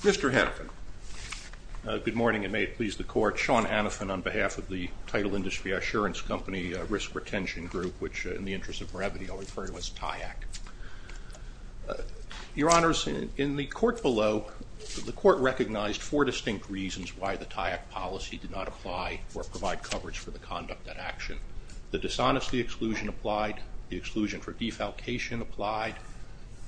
Mr. Hannafin. Good morning and may it please the Court. Sean Hannafin on behalf of the Title Industry Assurance Company Risk Retention Group, which in the interest of brevity I'll refer to as TYAC. Your Honors, in the Court below, the Court recognized four distinct reasons why the TYAC policy did not apply or provide coverage for the conduct and action. The dishonesty exclusion applied, the exclusion for defalcation applied,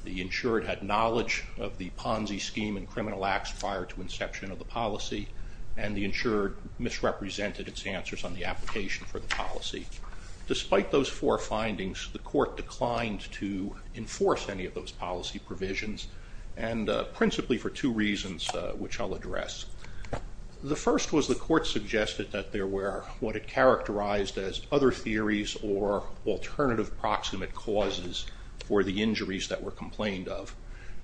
the insured had knowledge of the Ponzi scheme and criminal acts prior to inception of the policy, and the insured misrepresented its answers on the application for the policy. Despite those four findings, the Court declined to enforce any of those policy provisions, and principally for two reasons which I'll address. The first was the Court suggested that there were what it characterized as other theories or alternative proximate causes for the injuries that were complained of,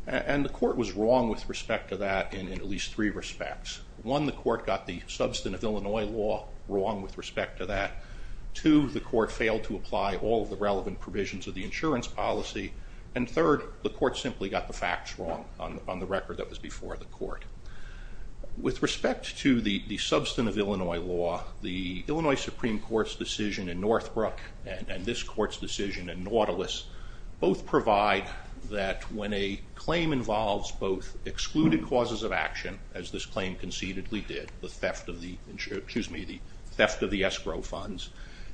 and the Court was wrong with respect to that in at least three respects. One, the Court got the substance of Illinois law wrong with respect to that. Two, the Court failed to apply all the relevant provisions of the insurance policy, and third, the Court simply got the facts wrong on the record that was before the Court. With respect to the substance of Illinois law, the Illinois Supreme Court's decision in Northbrook and this Court's decision in Nautilus both provide that when a claim involves both excluded causes of action, as this claim concededly did, the theft of the escrow funds,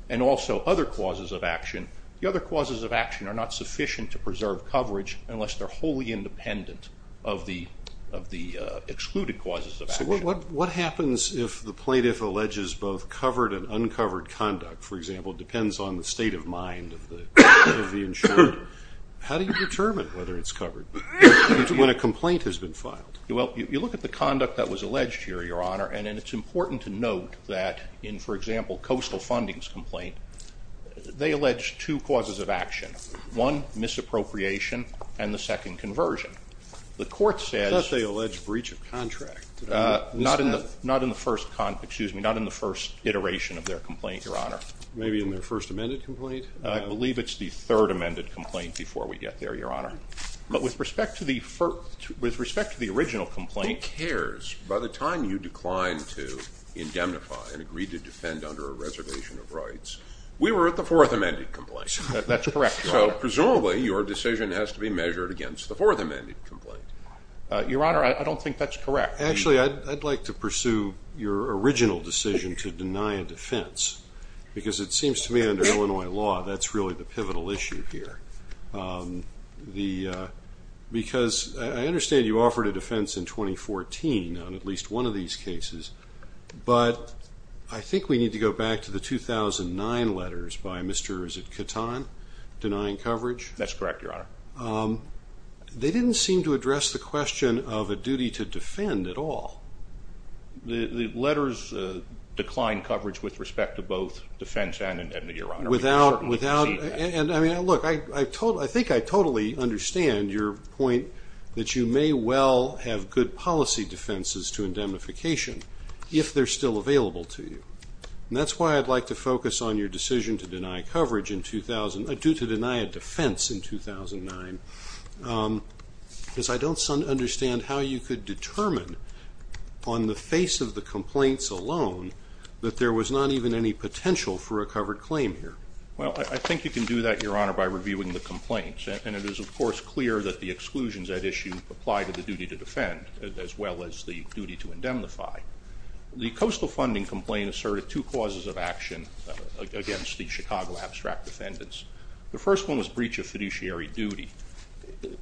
and also other causes of action, the other causes of action are not sufficient to preserve coverage unless they're wholly independent of the excluded causes of action. So what happens if the plaintiff alleges both covered and uncovered conduct, for example, depends on the state of the insurance? How do you determine whether it's covered when a complaint has been filed? Well, you look at the conduct that was alleged here, Your Honor, and it's important to note that in, for example, Coastal Funding's complaint, they allege two causes of action. One, misappropriation, and the second, conversion. The Court says- I thought they alleged breach of contract. Not in the first, excuse me, not in the first iteration of their complaint, Your Honor. Maybe in their first amended complaint? I believe it's the third amended complaint before we get there, Your Honor. But with respect to the original complaint- Who cares? By the time you declined to indemnify and agreed to defend under a reservation of rights, we were at the fourth amended complaint. That's correct, Your Honor. So presumably your decision has to be measured against the fourth amended complaint. Your Honor, I don't think that's correct. Actually, I'd like to pursue your original decision to deny a defense, because it seems to me under Illinois law, that's really the pivotal issue here. Because I understand you offered a defense in 2014 on at least one of these cases, but I think we need to go back to the 2009 letters by Mr., is it Catan, denying coverage? That's correct, Your Honor. They didn't seem to address the question of a duty to defend at all. The letters declined coverage with respect to both defense and indemnity, Your Honor. Without, without, and I mean, look, I think I totally understand your point that you may well have good policy defenses to indemnification if they're still available to you. And that's why I'd like to focus on your decision to deny coverage in 2000, due to deny a defense in 2009, because I don't understand how you could determine on the face of the complaints alone, that there was not even any potential for a covered claim here. Well, I think you can do that, Your Honor, by reviewing the complaints. And it is, of course, clear that the exclusions at issue apply to the duty to defend, as well as the duty to indemnify. The coastal funding complaint asserted two causes of action against the Chicago abstract defendants. The first one was breach of fiduciary duty.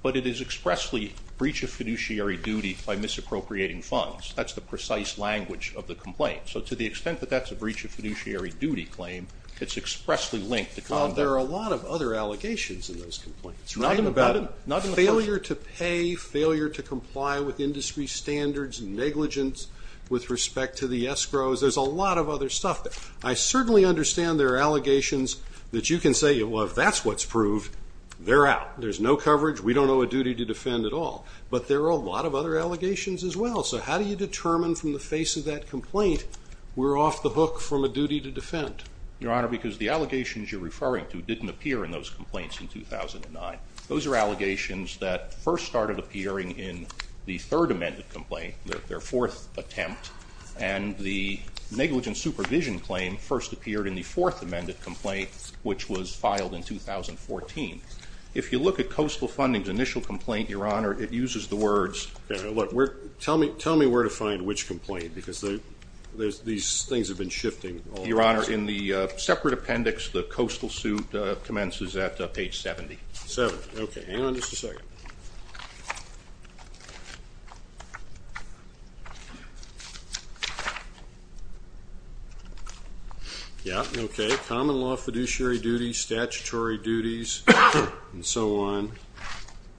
But it is expressly breach of fiduciary duty by misappropriating funds. That's the precise language of the complaint. So to the extent that that's a breach of fiduciary duty claim, it's expressly linked to- There are a lot of other allegations in those complaints, right? Not in the first- Failure to pay, failure to comply with industry standards, negligence with respect to the escrows. There's a lot of other stuff. I certainly understand there are allegations that you can say, well, if that's what's proved, they're out. There's no coverage. We don't know a duty to defend at all. But there are a lot of other allegations as well. So how do you determine from the face of that complaint, we're off the hook from a duty to defend? Your Honor, because the allegations you're referring to didn't appear in those complaints in 2009. Those are allegations that first started appearing in the third amended complaint, their fourth attempt. And the negligence supervision claim first appeared in the fourth amended complaint, which was filed in 2014. If you look at Coastal Funding's initial complaint, Your Honor, it uses the words- Look, tell me where to find which complaint because these things have been shifting. Your Honor, in the separate appendix, the Coastal suit commences at page 70. Seven, okay. Hang on just a second. Yeah, okay. Common law fiduciary duties, statutory duties, and so on,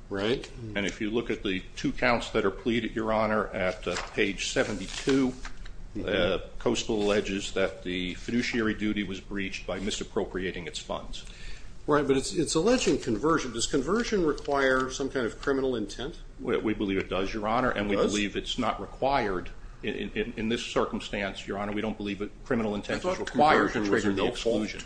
right? And if you look at the two counts that are pleaded, Your Honor, at page 72, Coastal alleges that the fiduciary duty was breached by misappropriating its funds. Right, but it's alleging conversion. Does conversion require some kind of criminal intent? We believe it does, Your Honor. And we believe it's not required in this circumstance, Your Honor. We don't believe that criminal intent is required to trigger the exclusion.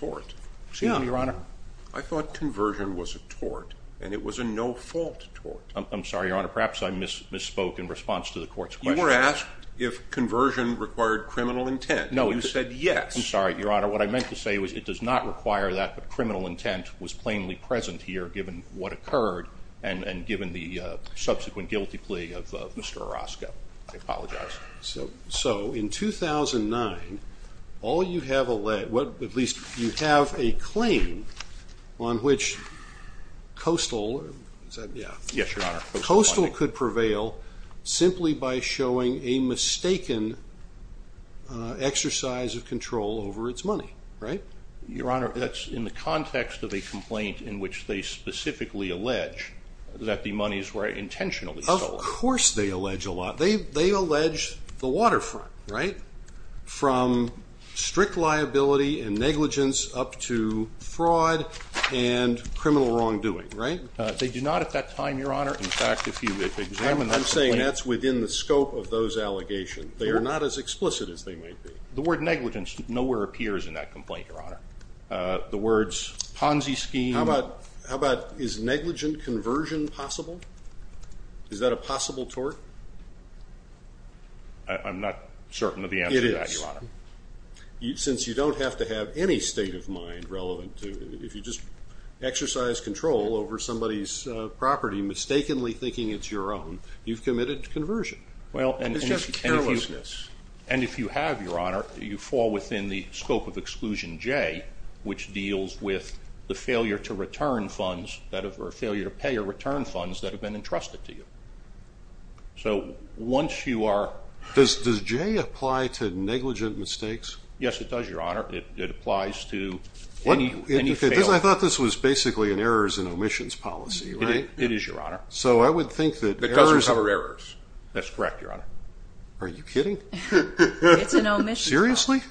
I thought conversion was a tort, and it was a no-fault tort. I'm sorry, Your Honor. Perhaps I misspoke in response to the court's question. You were asked if conversion required criminal intent. No. You said yes. I'm sorry, Your Honor. What I meant to say was it does not require that. But criminal intent was plainly present here given what occurred and given the subsequent guilty plea of Mr. Orozco. I apologize. So in 2009, all you have alleged, at least you have a claim on which Coastal could prevail simply by showing a mistaken exercise of control over its money, right? Your Honor, that's in the context of a complaint in which they specifically allege that the monies were intentionally stolen. Of course they allege a lot. They allege the waterfront, right? From strict liability and negligence up to fraud and criminal wrongdoing, right? They do not at that time, Your Honor. In fact, if you examine that complaint. I'm saying that's within the scope of those allegations. They are not as explicit as they might be. The word negligence nowhere appears in that complaint, Your Honor. The words Ponzi scheme. How about is negligent conversion possible? Is that a possible tort? I'm not certain of the answer to that, Your Honor. It is. Since you don't have to have any state of mind relevant to it. If you just exercise control over somebody's property mistakenly thinking it's your own, you've committed conversion. Well, and it's just carelessness. And if you have, Your Honor, you fall within the scope of Exclusion J, which deals with the failure to return funds or failure to pay or return funds that have been entrusted to you. So once you are... Does J apply to negligent mistakes? Yes, it does, Your Honor. It applies to any failure. I thought this was basically an errors and omissions policy, right? It is, Your Honor. So I would think that errors... It doesn't cover errors. That's correct, Your Honor. Are you kidding? It's an omissions policy. Seriously?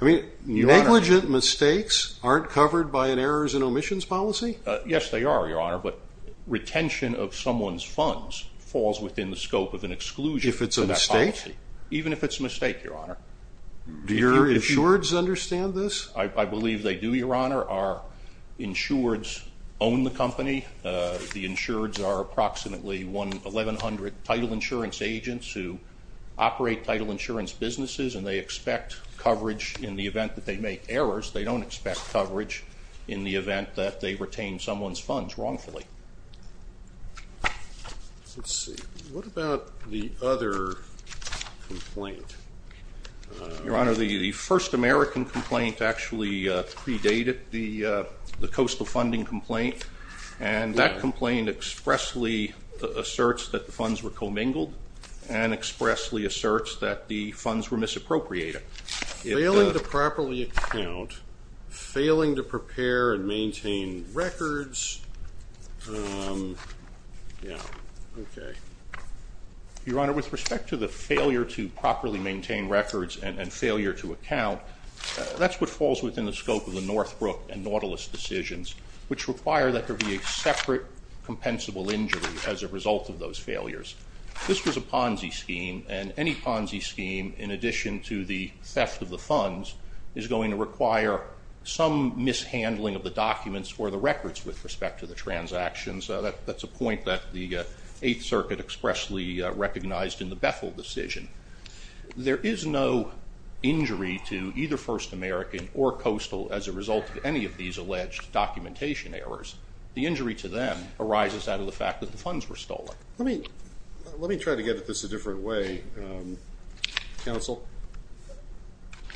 I mean, negligent mistakes aren't covered by an errors and omissions policy? Yes, they are, Your Honor. But retention of someone's funds falls within the scope of an exclusion policy. If it's a mistake? Even if it's a mistake, Your Honor. Do your insureds understand this? I believe they do, Your Honor. Our insureds own the company. The insureds are approximately 1,100 title insurance agents who operate title insurance businesses, and they expect coverage in the event that they make errors. They don't expect coverage in the event that they retain someone's funds wrongfully. Let's see. What about the other complaint? Your Honor, the first American complaint actually predated the coastal funding complaint. And that complaint expressly asserts that the funds were commingled and expressly asserts that the funds were misappropriated. Failing to properly account, failing to prepare and maintain records... Yeah, okay. Your Honor, with respect to the failure to properly maintain records and failure to account, that's what falls within the scope of the Northbrook and Nautilus decisions, which require that there be a separate compensable injury as a result of those failures. This was a Ponzi scheme, and any Ponzi scheme, in addition to the theft of the funds, is going to require some mishandling of the documents or the records with respect to the transactions. That's a point that the Eighth Circuit expressly recognized in the Bethel decision. There is no injury to either First American or Coastal as a result of any of these alleged documentation errors. The injury to them arises out of the fact that the funds were stolen. Let me try to get at this a different way, Counsel.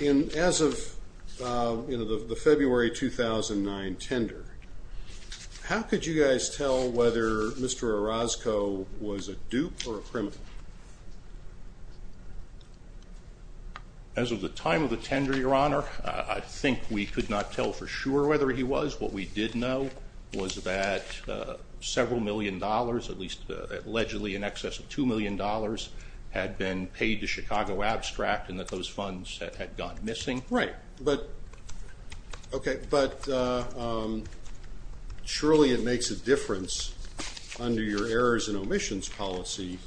In as of the February 2009 tender, how could you guys tell whether Mr. Orozco was a dupe or a criminal? As of the time of the tender, Your Honor, I think we could not tell for sure whether he was. What we did know was that several million dollars, at least allegedly in excess of two million dollars, had been paid to Chicago Abstract and that those funds had gone missing. Right, but surely it makes a difference under your errors and omissions policy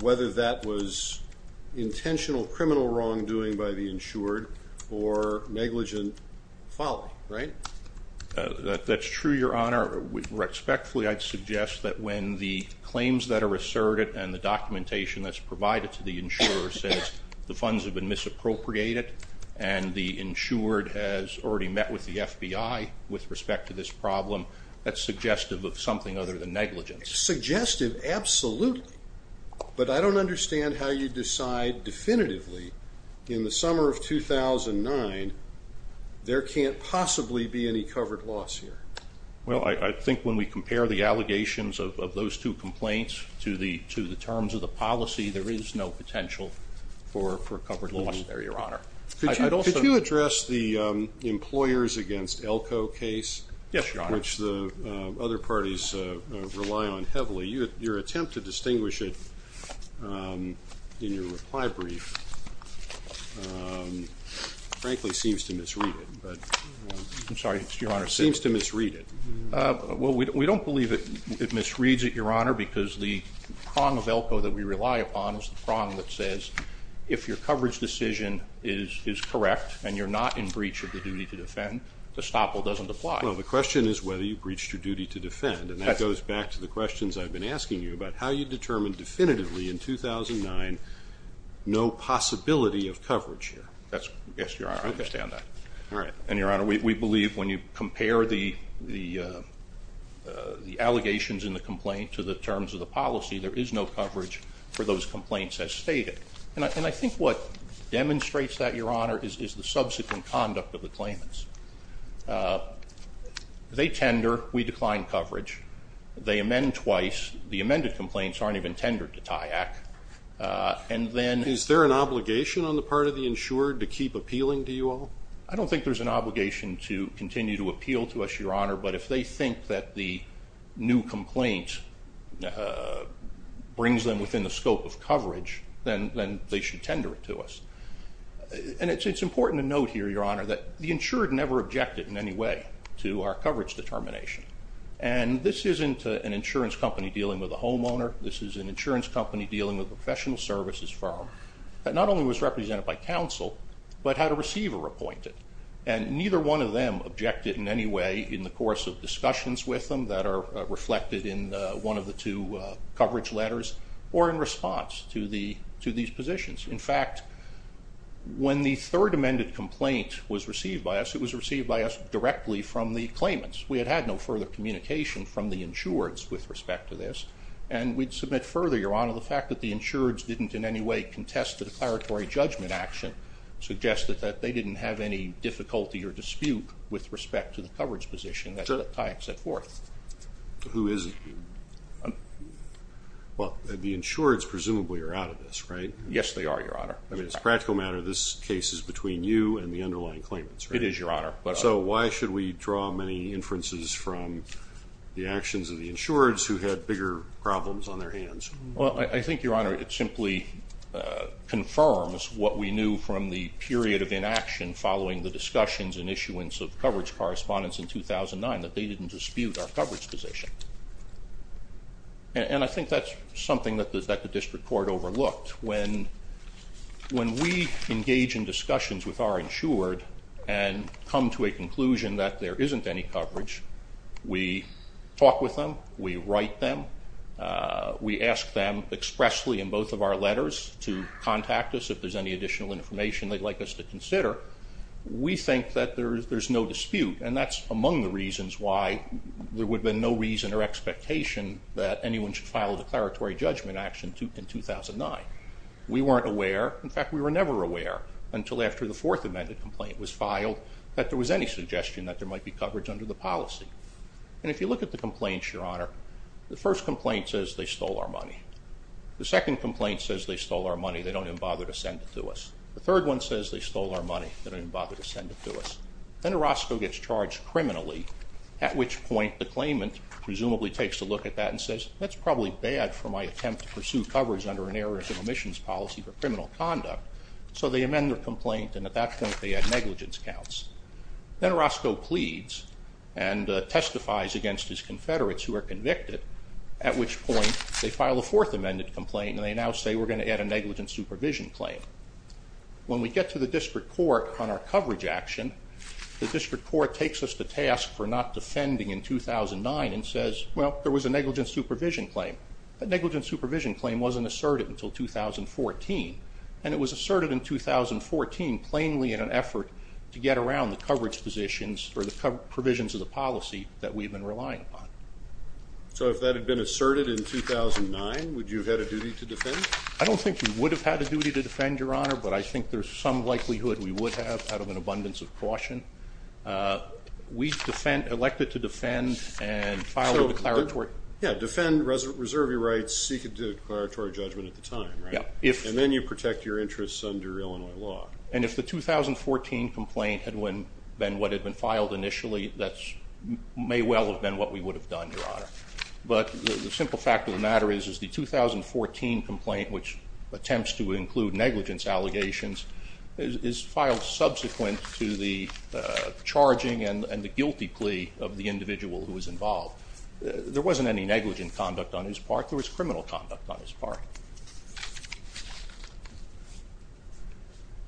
whether that was intentional criminal wrongdoing by the insured or negligent folly, right? That's true, Your Honor. Respectfully, I'd suggest that when the claims that are asserted and the documentation that's provided to the insurer says the funds have been misappropriated and the insured has already met with the FBI with respect to this problem, that's suggestive of something other than negligence. Suggestive, absolutely. But I don't understand how you decide definitively in the summer of 2009 there can't possibly be any covered loss here. Well, I think when we compare the allegations of those two complaints to the terms of the policy, there is no potential for covered loss there, Your Honor. Could you address the employers against Elko case? Yes, Your Honor. Which the other parties rely on heavily. Your attempt to distinguish it in your reply brief, frankly, seems to misread it. I'm sorry, Your Honor. Seems to misread it. Well, we don't believe it misreads it, Your Honor, because the prong of Elko that we rely upon is the prong that says if your coverage decision is correct and you're not in breach of the duty to defend, the stopple doesn't apply. Well, the question is whether you breached your duty to defend. And that goes back to the questions I've been asking you about how you determined definitively in 2009 no possibility of coverage here. Yes, Your Honor, I understand that. And, Your Honor, we believe when you compare the allegations in the complaint to the terms of the policy, there is no coverage for those complaints as stated. And I think what demonstrates that, Your Honor, is the subsequent conduct of the claimants. They tender. We decline coverage. They amend twice. The amended complaints aren't even tendered to TYAC. And then- Is there an obligation on the part of the insured to keep appealing to you all? I don't think there's an obligation to continue to appeal to us, Your Honor. But if they think that the new complaint brings them within the scope of coverage, then they should tender it to us. And it's important to note here, Your Honor, that the insured never objected in any way to our coverage determination. And this isn't an insurance company dealing with a homeowner. This is an insurance company dealing with a professional services firm that not only was represented by counsel, but had a receiver appointed. And neither one of them objected in any way in the course of discussions with them that are reflected in one of the two coverage letters or in response to these positions. In fact, when the third amended complaint was received by us, it was received by us directly from the claimants. We had had no further communication from the insureds with respect to this. And we'd submit further, Your Honor, the fact that the insureds didn't in any way contest the declaratory judgment action suggested that they didn't have any difficulty or dispute with respect to the coverage position that Tyak set forth. So who is it? Well, the insureds presumably are out of this, right? Yes, they are, Your Honor. I mean, as a practical matter, this case is between you and the underlying claimants, right? It is, Your Honor. So why should we draw many inferences from the actions of the insureds who had bigger problems on their hands? Well, I think, Your Honor, it simply confirms what we knew from the period of inaction following the discussions and issuance of coverage correspondence in 2009 that they didn't dispute our coverage position. And I think that's something that the district court overlooked. When we engage in discussions with our insured and come to a conclusion that there isn't any coverage, we talk with them, we write them, we ask them expressly in both of our letters to contact us if there's any additional information they'd like us to consider. We think that there's no dispute, and that's among the reasons why there would have been no reason or expectation that anyone should file a declaratory judgment action in 2009. We weren't aware. In fact, we were never aware until after the Fourth Amendment complaint was filed that there was any suggestion that there might be coverage under the policy. And if you look at the complaints, Your Honor, the first complaint says they stole our money. The second complaint says they stole our money. They don't even bother to send it to us. The third one says they stole our money. They don't even bother to send it to us. Then Orozco gets charged criminally, at which point the claimant presumably takes a look at that and says, that's probably bad for my attempt to pursue coverage under an errors of omissions policy for criminal conduct. So they amend their complaint, and at that point, they add negligence counts. Then Orozco pleads and testifies against his confederates who are convicted, at which point they file a Fourth Amendment complaint, and they now say we're going to add a negligent supervision claim. When we get to the district court on our coverage action, the district court takes us to task for not defending in 2009 and says, well, there was a negligent supervision claim. That negligent supervision claim wasn't asserted until 2014, and it was asserted in 2014 plainly in an effort to get around the coverage positions or the provisions of the policy that we've been relying upon. So if that had been asserted in 2009, would you have had a duty to defend? I don't think we would have had a duty to defend, Your Honor, but I think there's some likelihood we would have, out of an abundance of caution. We've elected to defend and file a declaratory. Yeah, defend, reserve your rights, seek a declaratory judgment at the time, right? And then you protect your interests under Illinois law. And if the 2014 complaint had been what had been filed initially, that may well have been what we would have done, Your Honor. But the simple fact of the matter is the 2014 complaint, which attempts to include negligence allegations, is filed subsequent to the charging and the guilty plea of the individual who was involved. There wasn't any negligent conduct on his part. There was criminal conduct on his part.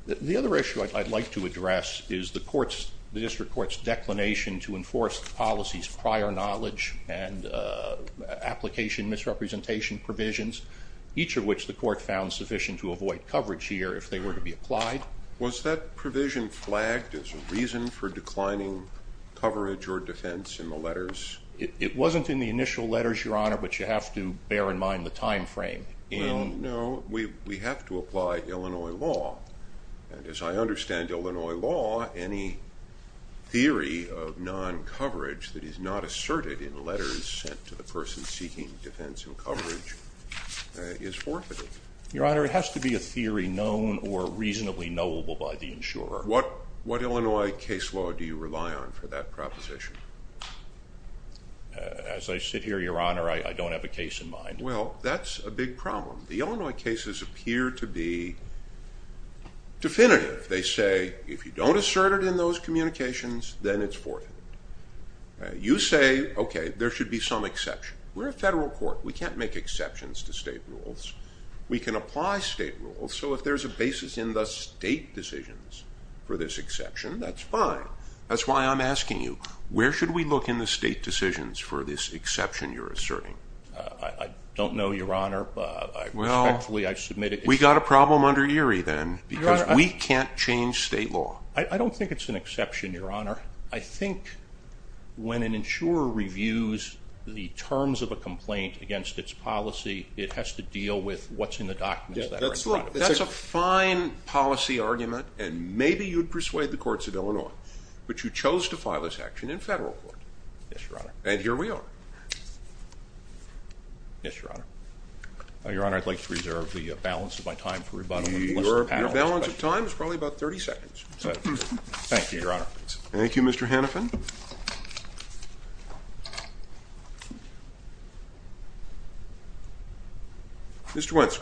The other issue I'd like to address is the court's, the district court's, declination to enforce the policy's prior knowledge and application misrepresentation provisions, each of which the court found sufficient to avoid coverage here if they were to be applied. Was that provision flagged as a reason for declining coverage or defense in the letters? It wasn't in the initial letters, Your Honor, but you have to bear in mind the time frame. No, we have to apply Illinois law. And as I understand Illinois law, any theory of non-coverage that is not asserted in letters sent to the person seeking defense and coverage is forfeited. Your Honor, it has to be a theory known or reasonably knowable by the insurer. What Illinois case law do you rely on for that proposition? As I sit here, Your Honor, I don't have a case in mind. Well, that's a big problem. The Illinois cases appear to be definitive. They say, if you don't assert it in those communications, then it's forfeited. You say, okay, there should be some exception. We're a federal court. We can't make exceptions to state rules. We can apply state rules. So if there's a basis in the state decisions for this exception, that's fine. That's why I'm asking you, where should we look in the state decisions for this exception you're asserting? I don't know, Your Honor. Respectfully, I've submitted it. We've got a problem under Erie, then, because we can't change state law. I don't think it's an exception, Your Honor. I think when an insurer reviews the terms of a complaint against its policy, it has to deal with what's in the documents that are in front of it. That's a fine policy argument, and maybe you'd persuade the courts of Illinois. But you chose to file this action in federal court. Yes, Your Honor. And here we are. Yes, Your Honor. Your Honor, I'd like to reserve the balance of my time for rebuttal. Your balance of time is probably about 30 seconds. Thank you, Your Honor. Thank you, Mr. Hannafin. Mr. Wentz.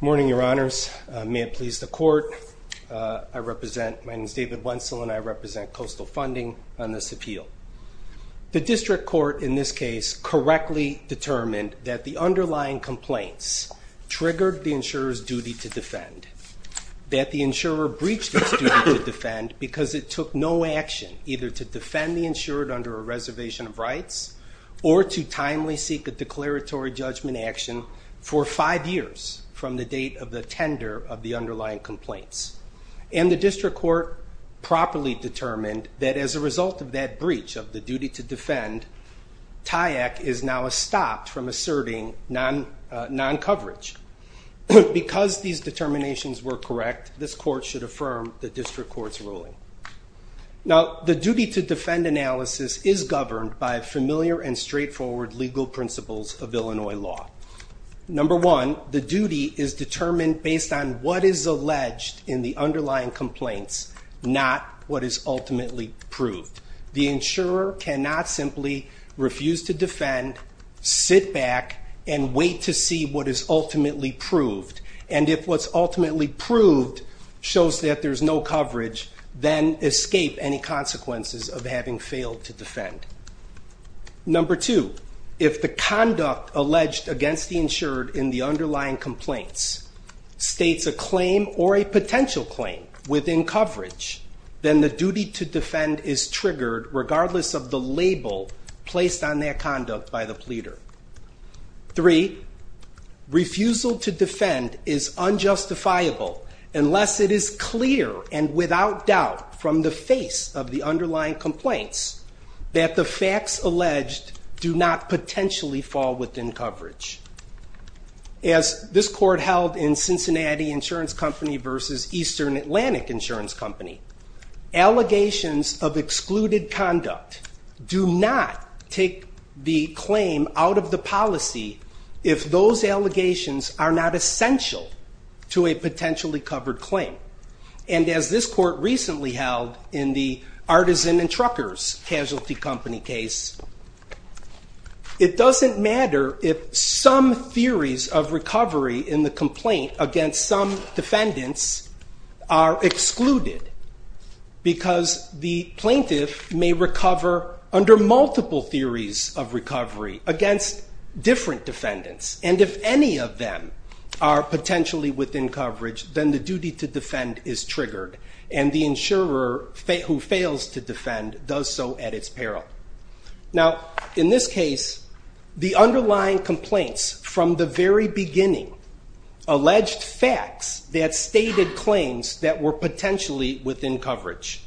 Morning, Your Honors. May it please the court. My name is David Wentzel, and I represent Coastal Funding on this appeal. The district court in this case correctly determined that the underlying complaints triggered the insurer's duty to defend, that the insurer breached its duty to defend because it took no action either to defend the insured under a reservation of rights or to timely seek a declaratory judgment action for five years from the date of the tender of the underlying complaints. And the district court properly determined that as a result of that breach of the duty to defend, TYAC is now stopped from asserting non-coverage. Because these determinations were correct, this court should affirm the district court's ruling. Now, the duty to defend analysis is governed by familiar and straightforward legal principles of Illinois law. Number one, the duty is determined based on what is alleged in the underlying complaints, not what is ultimately proved. The insurer cannot simply refuse to defend, sit back, and wait to see what is ultimately proved. And if what's ultimately proved shows that there's no coverage, Number two, if the conduct alleged against the insured in the underlying complaints states a claim or a potential claim within coverage, then the duty to defend is triggered regardless of the label placed on their conduct by the pleader. Three, refusal to defend is unjustifiable unless it is clear and without doubt from the face of underlying complaints that the facts alleged do not potentially fall within coverage. As this court held in Cincinnati Insurance Company versus Eastern Atlantic Insurance Company, allegations of excluded conduct do not take the claim out of the policy if those allegations are not essential to a potentially covered claim. And as this court recently held in the Artisan and Truckers Casualty Company case, it doesn't matter if some theories of recovery in the complaint against some defendants are excluded because the plaintiff may recover under multiple theories of recovery against different defendants. And if any of them are potentially within coverage, then the duty to defend is triggered and the insurer who fails to defend does so at its peril. Now, in this case, the underlying complaints from the very beginning alleged facts that stated claims that were potentially within coverage.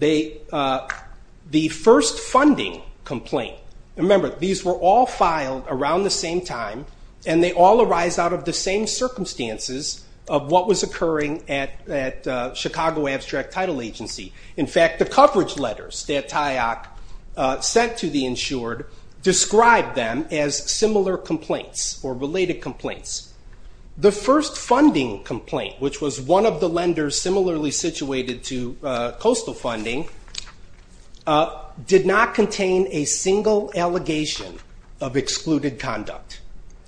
The first funding complaint, remember, these were all filed around the same time and they all arise out of the same circumstances of what was occurring at Chicago Abstract Title Agency. In fact, the coverage letters that TIOC sent to the insured described them as similar complaints or related complaints. The first funding complaint, which was one of the lenders similarly situated to coastal funding, did not contain a single allegation of excluded conduct.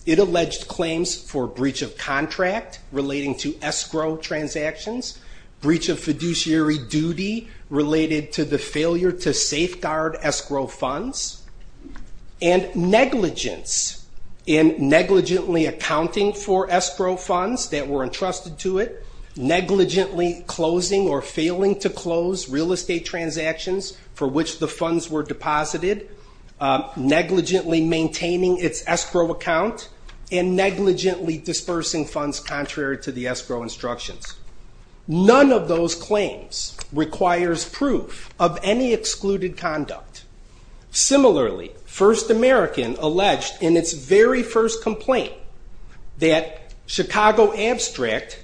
It alleged claims for breach of contract relating to escrow transactions, breach of fiduciary duty related to the failure to safeguard escrow funds, and negligence in negligently accounting for escrow funds that were entrusted to it, negligently closing or failing to close real estate transactions for which the funds were deposited, negligently maintaining its escrow account, and negligently dispersing funds contrary to the escrow instructions. None of those claims requires proof of any excluded conduct. Similarly, First American alleged in its very first complaint that Chicago Abstract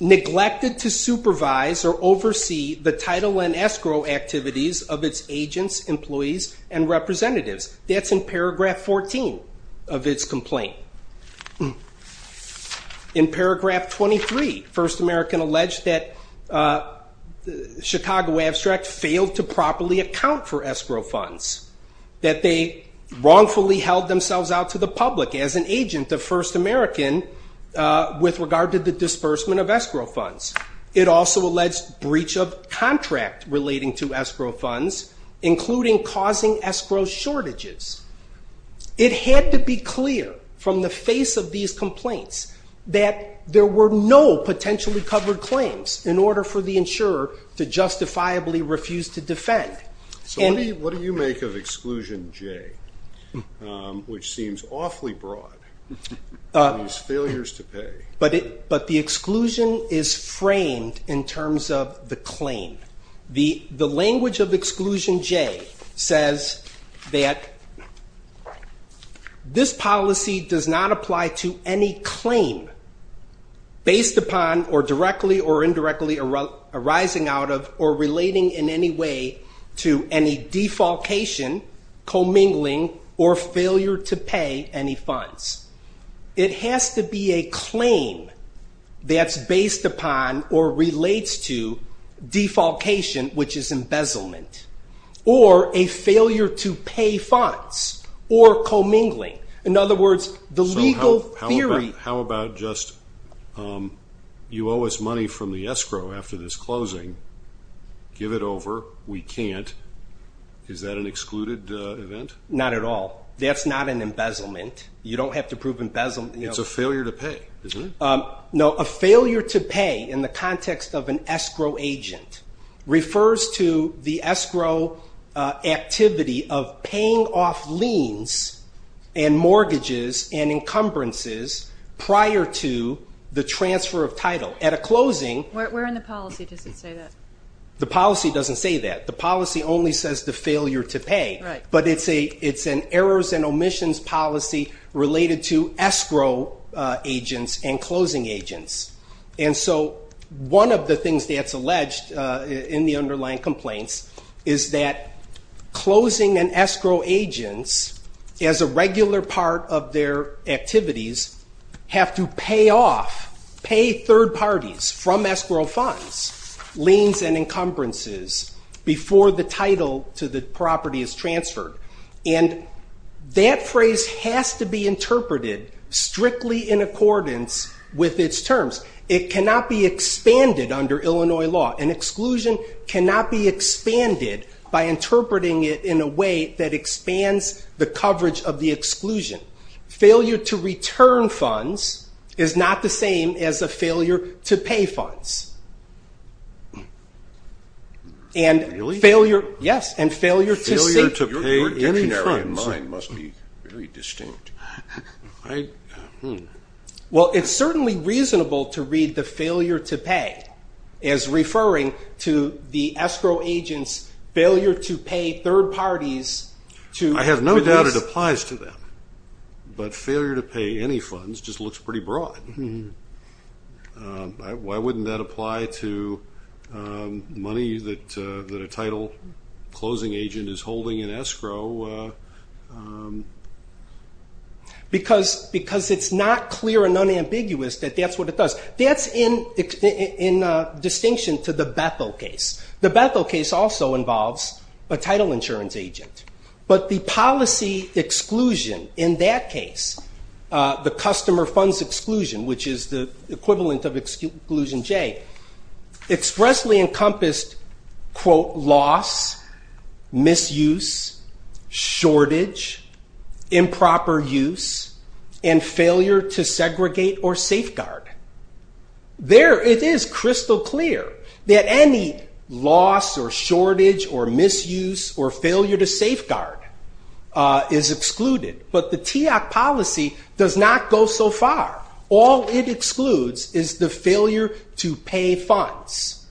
neglected to supervise or oversee the title and escrow activities of its agents, employees, and representatives. That's in paragraph 14 of its complaint. In paragraph 23, First American alleged that funds, that they wrongfully held themselves out to the public as an agent of First American with regard to the disbursement of escrow funds. It also alleged breach of contract relating to escrow funds, including causing escrow shortages. It had to be clear from the face of these complaints that there were no potentially covered claims in order for the insurer to justifiably refuse to defend. What do you make of Exclusion J, which seems awfully broad? But the exclusion is framed in terms of the claim. The language of Exclusion J says that this policy does not apply to any claim based upon or directly or indirectly arising out of or relating in any way to any defalcation, commingling, or failure to pay any funds. It has to be a claim that's based upon or relates to defalcation, which is embezzlement, or a failure to pay funds, or commingling. In other words, the legal theory- How about just, you owe us money from the escrow after this closing. Give it over. We can't. Is that an excluded event? Not at all. That's not an embezzlement. You don't have to prove embezzlement. It's a failure to pay, isn't it? No, a failure to pay in the context of an escrow agent refers to the escrow activity of paying off liens and mortgages and encumbrances prior to the transfer of title. At a closing- Where in the policy does it say that? The policy doesn't say that. The policy only says the failure to pay. Right. But it's an errors and omissions policy related to escrow agents and closing agents. And so one of the things that's alleged in the underlying complaints is that closing and escrow agents, as a regular part of their activities, have to pay off, pay third parties from escrow funds, liens and encumbrances before the title to the property is transferred. And that phrase has to be interpreted strictly in accordance with its terms. It cannot be expanded under Illinois law. An exclusion cannot be expanded by interpreting it in a way that expands the coverage of the exclusion. Failure to return funds is not the same as a failure to pay funds. And failure- Really? Yes. And failure to- Failure to pay any funds. Your dictionary and mine must be very distinct. I- Well, it's certainly reasonable to read the failure to pay as referring to the escrow agent's failure to pay third parties to- I have no doubt it applies to them. But failure to pay any funds just looks pretty broad. Why wouldn't that apply to money that a title closing agent is holding in escrow? Because it's not clear and unambiguous that that's what it does. That's in distinction to the Bethel case. The Bethel case also involves a title insurance agent. But the policy exclusion in that case, the customer funds exclusion, which is the equivalent of exclusion J, expressly encompassed, quote, loss, misuse, shortage, improper use, and failure to segregate or safeguard. There, it is crystal clear that any loss or shortage or misuse or failure to safeguard is excluded. But the TEOC policy does not go so far. All it excludes is the failure to pay funds.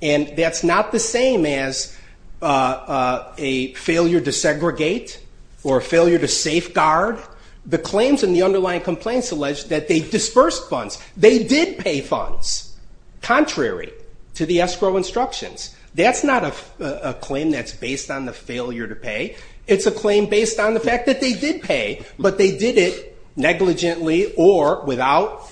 And that's not the same as a failure to segregate or failure to safeguard. The claims in the underlying complaints allege that they dispersed funds. They did pay funds, contrary to the escrow instructions. That's not a claim that's based on the failure to pay. It's a claim based on the fact that they did pay. But they did it negligently or without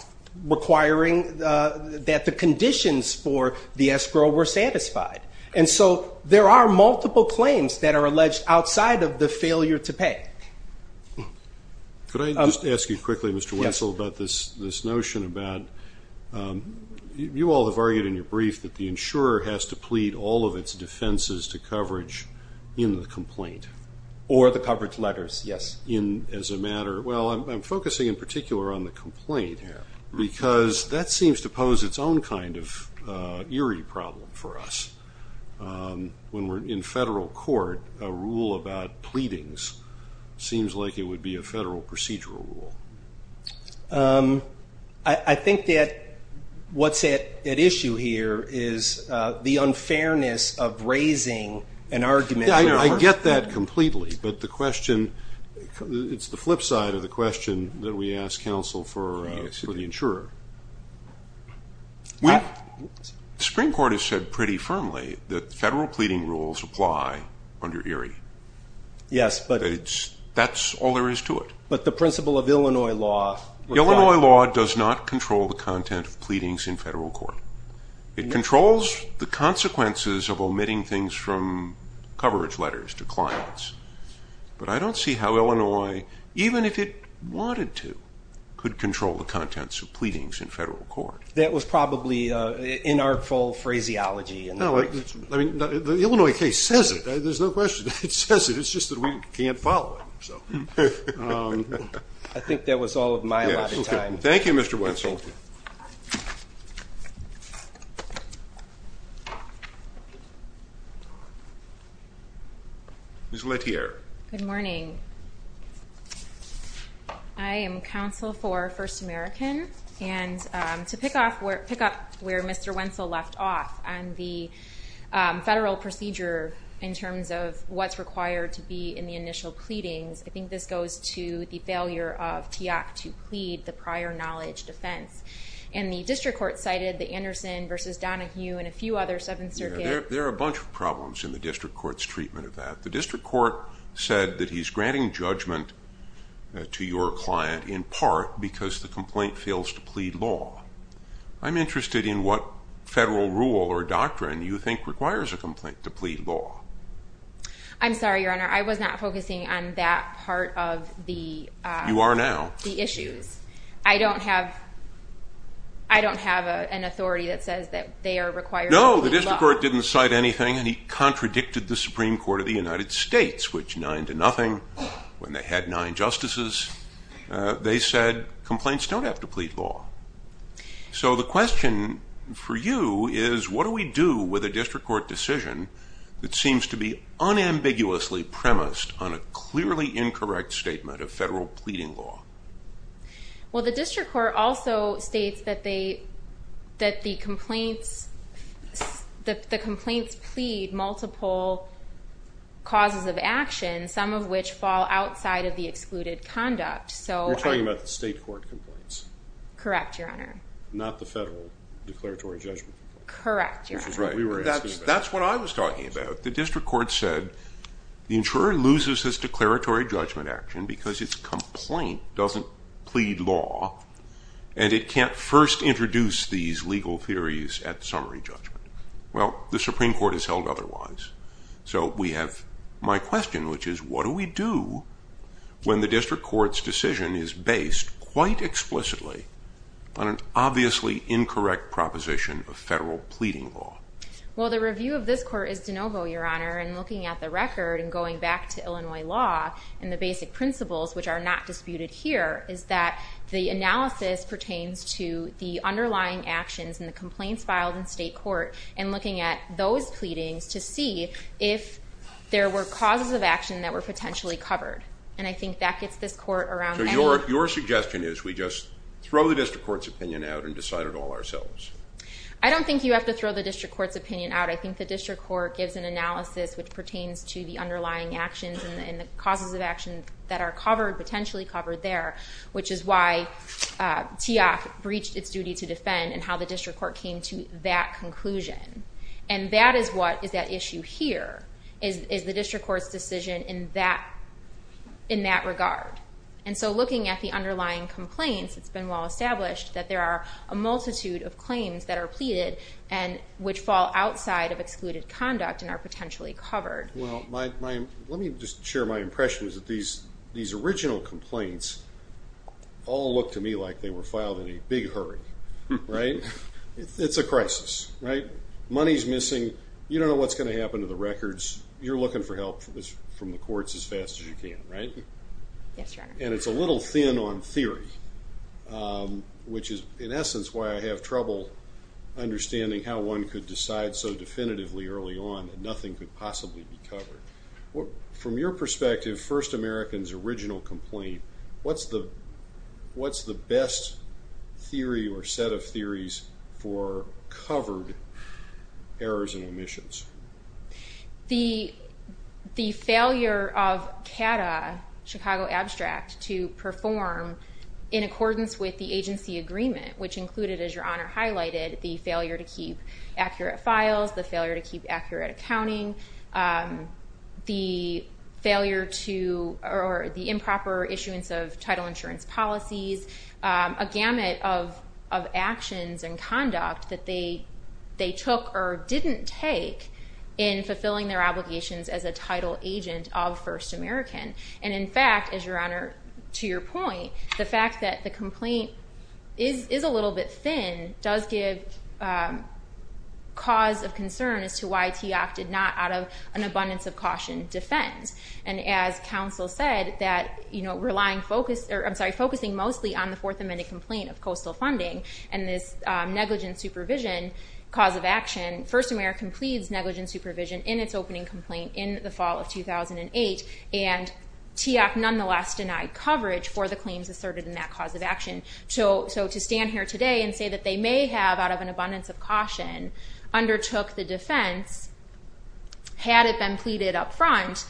requiring that the conditions for the escrow were satisfied. And so there are multiple claims that are alleged outside of the failure to pay. Could I just ask you quickly, Mr. Wessel, about this notion about you all have argued in your brief that the insurer has to plead all of its defenses to coverage in the complaint. Or the coverage letters, yes. As a matter, well, I'm focusing in particular on the complaint here. Because that seems to pose its own kind of eerie problem for us. When we're in federal court, a rule about pleadings seems like it would be a federal procedural rule. I think that what's at issue here is the unfairness of raising an argument. I get that completely. But the question, it's the flip side of the question that we ask counsel for the insurer. Well, the Supreme Court has said pretty firmly that federal pleading rules apply under ERIE. Yes. But that's all there is to it. But the principle of Illinois law. Illinois law does not control the content of pleadings in federal court. It controls the consequences of omitting things from coverage letters to clients. But I don't see how Illinois, even if it wanted to, could control the contents of pleadings in federal court. That was probably inartful phraseology. No, I mean, the Illinois case says it. There's no question. It says it. It's just that we can't follow it. I think that was all of my allotted time. Thank you, Mr. Wessel. Ms. Letierre. Good morning. I am counsel for First American. And to pick up where Mr. Wessel left off on the federal procedure in terms of what's required to be in the initial pleadings, I think this goes to the failure of TIAC to plead the prior knowledge defense. And the district court cited the Anderson versus Donahue and a few other Seventh Circuit... There are a bunch of problems in the district court's treatment of that. The district court said that he's granting judgment to your client in part because the complaint fails to plead law. I'm interested in what federal rule or doctrine you think requires a complaint to plead law. I'm sorry, Your Honor. I was not focusing on that part of the... You are now. ...the issues. I don't have an authority that says that they are required to plead law. No, the district court didn't cite anything, and he contradicted the Supreme Court of the United States, which nine to nothing when they had nine justices. They said complaints don't have to plead law. So the question for you is, what do we do with a district court decision that seems to be unambiguously premised on a clearly incorrect statement of federal pleading law? Well, the district court also states that the complaints plead multiple causes of action, some of which fall outside of the excluded conduct. You're talking about the state court complaints. Correct, Your Honor. Not the federal declaratory judgment. Correct, Your Honor. Which is what we were asking about. That's what I was talking about. The district court said the insurer loses his declaratory judgment action because his complaint doesn't plead law, and it can't first introduce these legal theories at summary judgment. Well, the Supreme Court has held otherwise. So we have my question, which is, what do we do when the district court's decision is based quite explicitly on an obviously incorrect proposition of federal pleading law? Well, the review of this court is de novo, Your Honor, and looking at the record and going back to Illinois law and the basic principles, which are not disputed here, is that the analysis pertains to the underlying actions and the complaints filed in state court, and looking at those pleadings to see if there were causes of action that were potentially covered. And I think that gets this court around now. Your suggestion is we just throw the district court's opinion out and decide it all ourselves? I don't think you have to throw the district court's opinion out. I think the district court gives an analysis which pertains to the underlying actions and the causes of action that are covered, potentially covered there, which is why Teoff breached its duty to defend and how the district court came to that conclusion. And that is what is at issue here, is the district court's decision in that regard. And so looking at the underlying complaints, it's been well established that there are a multitude of claims that are pleaded and which fall outside of excluded conduct and are potentially covered. Well, let me just share my impression is that these original complaints all look to me like they were filed in a big hurry, right? It's a crisis, right? Money's missing. You don't know what's going to happen to the records. You're looking for help from the courts as fast as you can, right? Yes, Your Honor. And it's a little thin on theory, which is in essence why I have trouble understanding how one could decide so definitively early on that nothing could possibly be covered. From your perspective, First American's original complaint, what's the best theory or set of theories for covered errors and omissions? The failure of CADAA, Chicago Abstract, to perform in accordance with the agency agreement, which included, as Your Honor highlighted, the failure to keep accurate files, the failure to keep accurate accounting, the failure to, or the improper issuance of title insurance policies, a gamut of actions and conduct that they took or didn't take in fulfilling their obligations as a title agent of First American. And in fact, as Your Honor, to your point, the fact that the complaint is a little bit thin does give cause of concern as to why TEOC did not, out of an abundance of caution, defend. And as counsel said, that relying focus, or I'm sorry, focusing mostly on the Fourth Amendment complaint of coastal funding and this negligent supervision cause of action, First American pleads negligent supervision in its opening complaint in the fall of 2008, and TEOC nonetheless denied coverage for the claims asserted in that cause of action. So to stand here today and say that they may have, out of an abundance of caution, undertook the defense, had it been pleaded up front,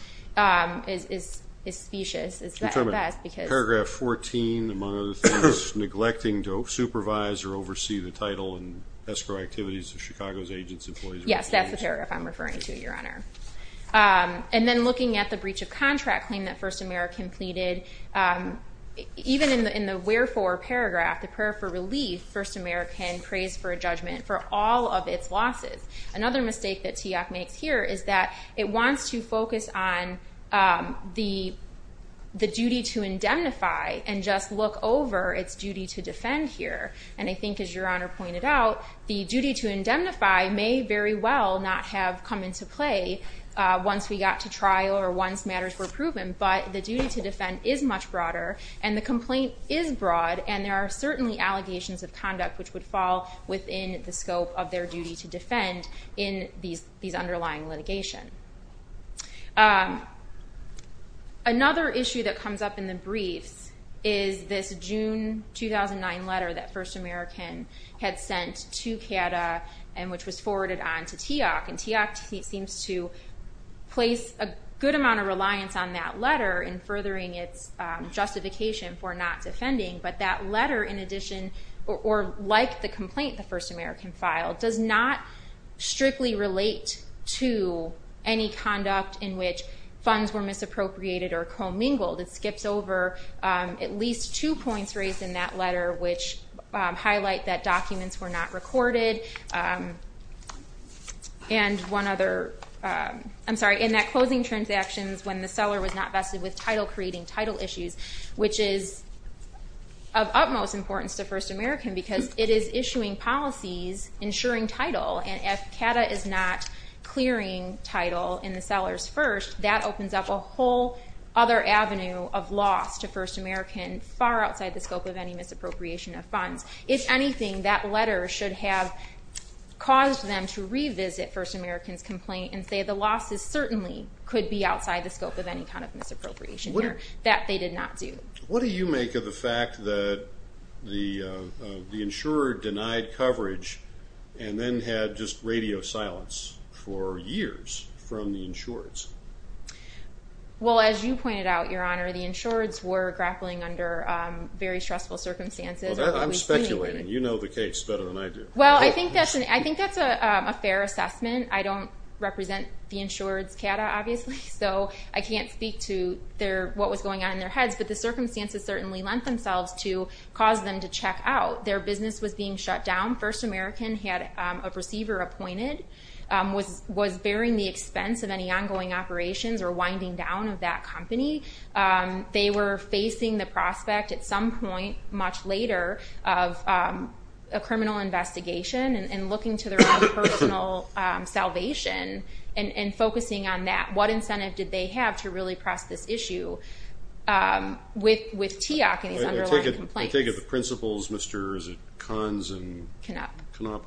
is specious. Is that at best, because- Paragraph 14, among other things, neglecting to supervise or oversee the title and escrow activities of Chicago's agents, employees- Yes, that's the paragraph I'm referring to, Your Honor. And then looking at the breach of contract claim that First American pleaded, even in the wherefore paragraph, the prayer for relief, First American prays for a judgment for all of its losses. Another mistake that TEOC makes here is that it wants to focus on the duty to indemnify and just look over its duty to defend here. And I think as Your Honor pointed out, the duty to indemnify may very well not have come into play once we got to trial or once matters were proven, but the duty to defend is much broader and the complaint is broad and there are certainly allegations of conduct which would fall within the scope of their duty to defend in these underlying litigation. Another issue that comes up in the briefs is this June 2009 letter that First American had sent to CATA and which was forwarded on to TEOC. And TEOC seems to place a good amount of reliance on that letter in furthering its justification for not defending, but that letter in addition, or like the complaint the First American filed, does not strictly relate to any conduct in which funds were misappropriated or commingled. It skips over at least two points raised in that letter which highlight that documents were not recorded. And one other, I'm sorry, in that closing transactions when the seller was not vested with title creating title issues, which is of utmost importance to First American because it is issuing policies ensuring title and if CATA is not clearing title in the seller's first, that opens up a whole other avenue of loss to First American far outside the scope of any misappropriation of funds. If anything, that letter should have caused them to revisit First American's complaint and say the losses certainly could be outside the scope of any kind of misappropriation here. That they did not do. What do you make of the fact that the insurer denied coverage and then had just radio silence for years from the insureds? Well, as you pointed out, Your Honor, the insureds were grappling under very stressful circumstances. I'm speculating. You know the case better than I do. Well, I think that's a fair assessment. I don't represent the insured's CATA, obviously, so I can't speak to what was going on in their heads, but the circumstances certainly lent themselves to cause them to check out. Their business was being shut down. First American had a receiver appointed, was bearing the expense of any ongoing operations or winding down of that company. They were facing the prospect at some point much later of a criminal investigation and looking to their own personal salvation and focusing on that. What incentive did they have to really press this issue with TEOC and these underlying complaints? I take it the principals, Mr., is it Kahns and... Knapp. Knapp,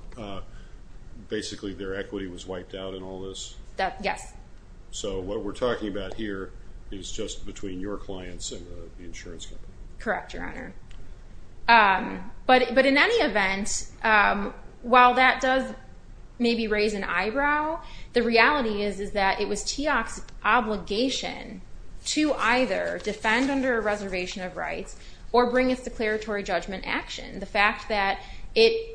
basically their equity was wiped out in all this? Yes. So what we're talking about here is just between your clients and the insurance company. Correct, Your Honor. But in any event, while that does maybe raise an eyebrow, the reality is that it was TEOC's obligation to either defend under a reservation of rights or bring its declaratory judgment action. The fact that it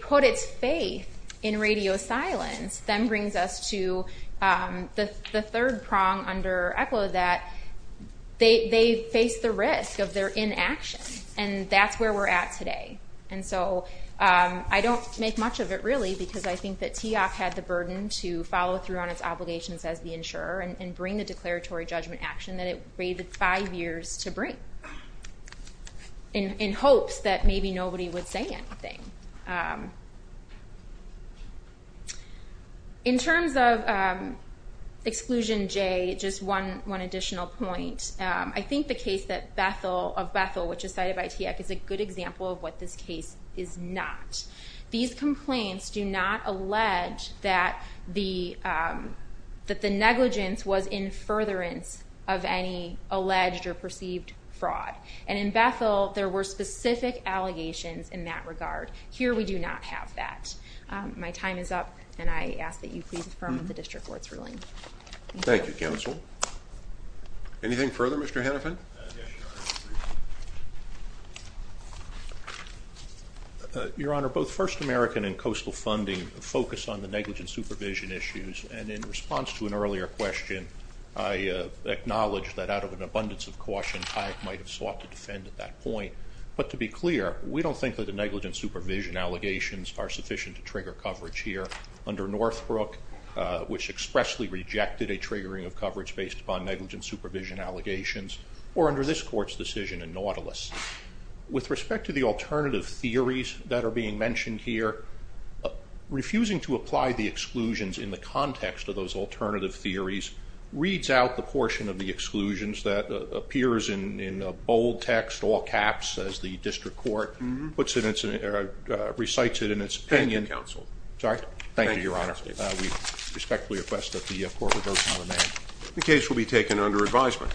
put its faith in radio silence then brings us to the third prong under ECHLO that they face the risk of their inaction and that's where we're at today. And so I don't make much of it really because I think that TEOC had the burden to follow through on its obligations as the insurer and bring the declaratory judgment action that it waited five years to bring in hopes that maybe nobody would say anything. In terms of Exclusion J, just one additional point. I think the case of Bethel, which is cited by TEOC, is a good example of what this case is not. These complaints do not allege that the negligence was in furtherance of any alleged or perceived fraud. And in Bethel, there were specific allegations in that regard. Here, we do not have that. My time is up and I ask that you please affirm the District Court's ruling. Thank you. Thank you, Counsel. Anything further, Mr. Hennepin? Your Honor, both First American and Coastal Funding focus on the negligence supervision issues and in response to an earlier question, I acknowledge that out of an abundance of caution, TEOC might have sought to defend at that point. But to be clear, we don't think that the negligence supervision allegations are sufficient to trigger coverage here under Northbrook, which expressly rejected a triggering of coverage based upon negligence supervision allegations, or under this Court's decision in Nautilus. With respect to the alternative theories that are being mentioned here, refusing to apply the exclusions in the context of those alternative theories reads out the portion of the exclusions that appears in bold text, all caps, as the District Court recites it in its opinion. Thank you, Counsel. Sorry? Thank you, Your Honor. We respectfully request that the Court revoke that amendment. The case will be taken under advisement.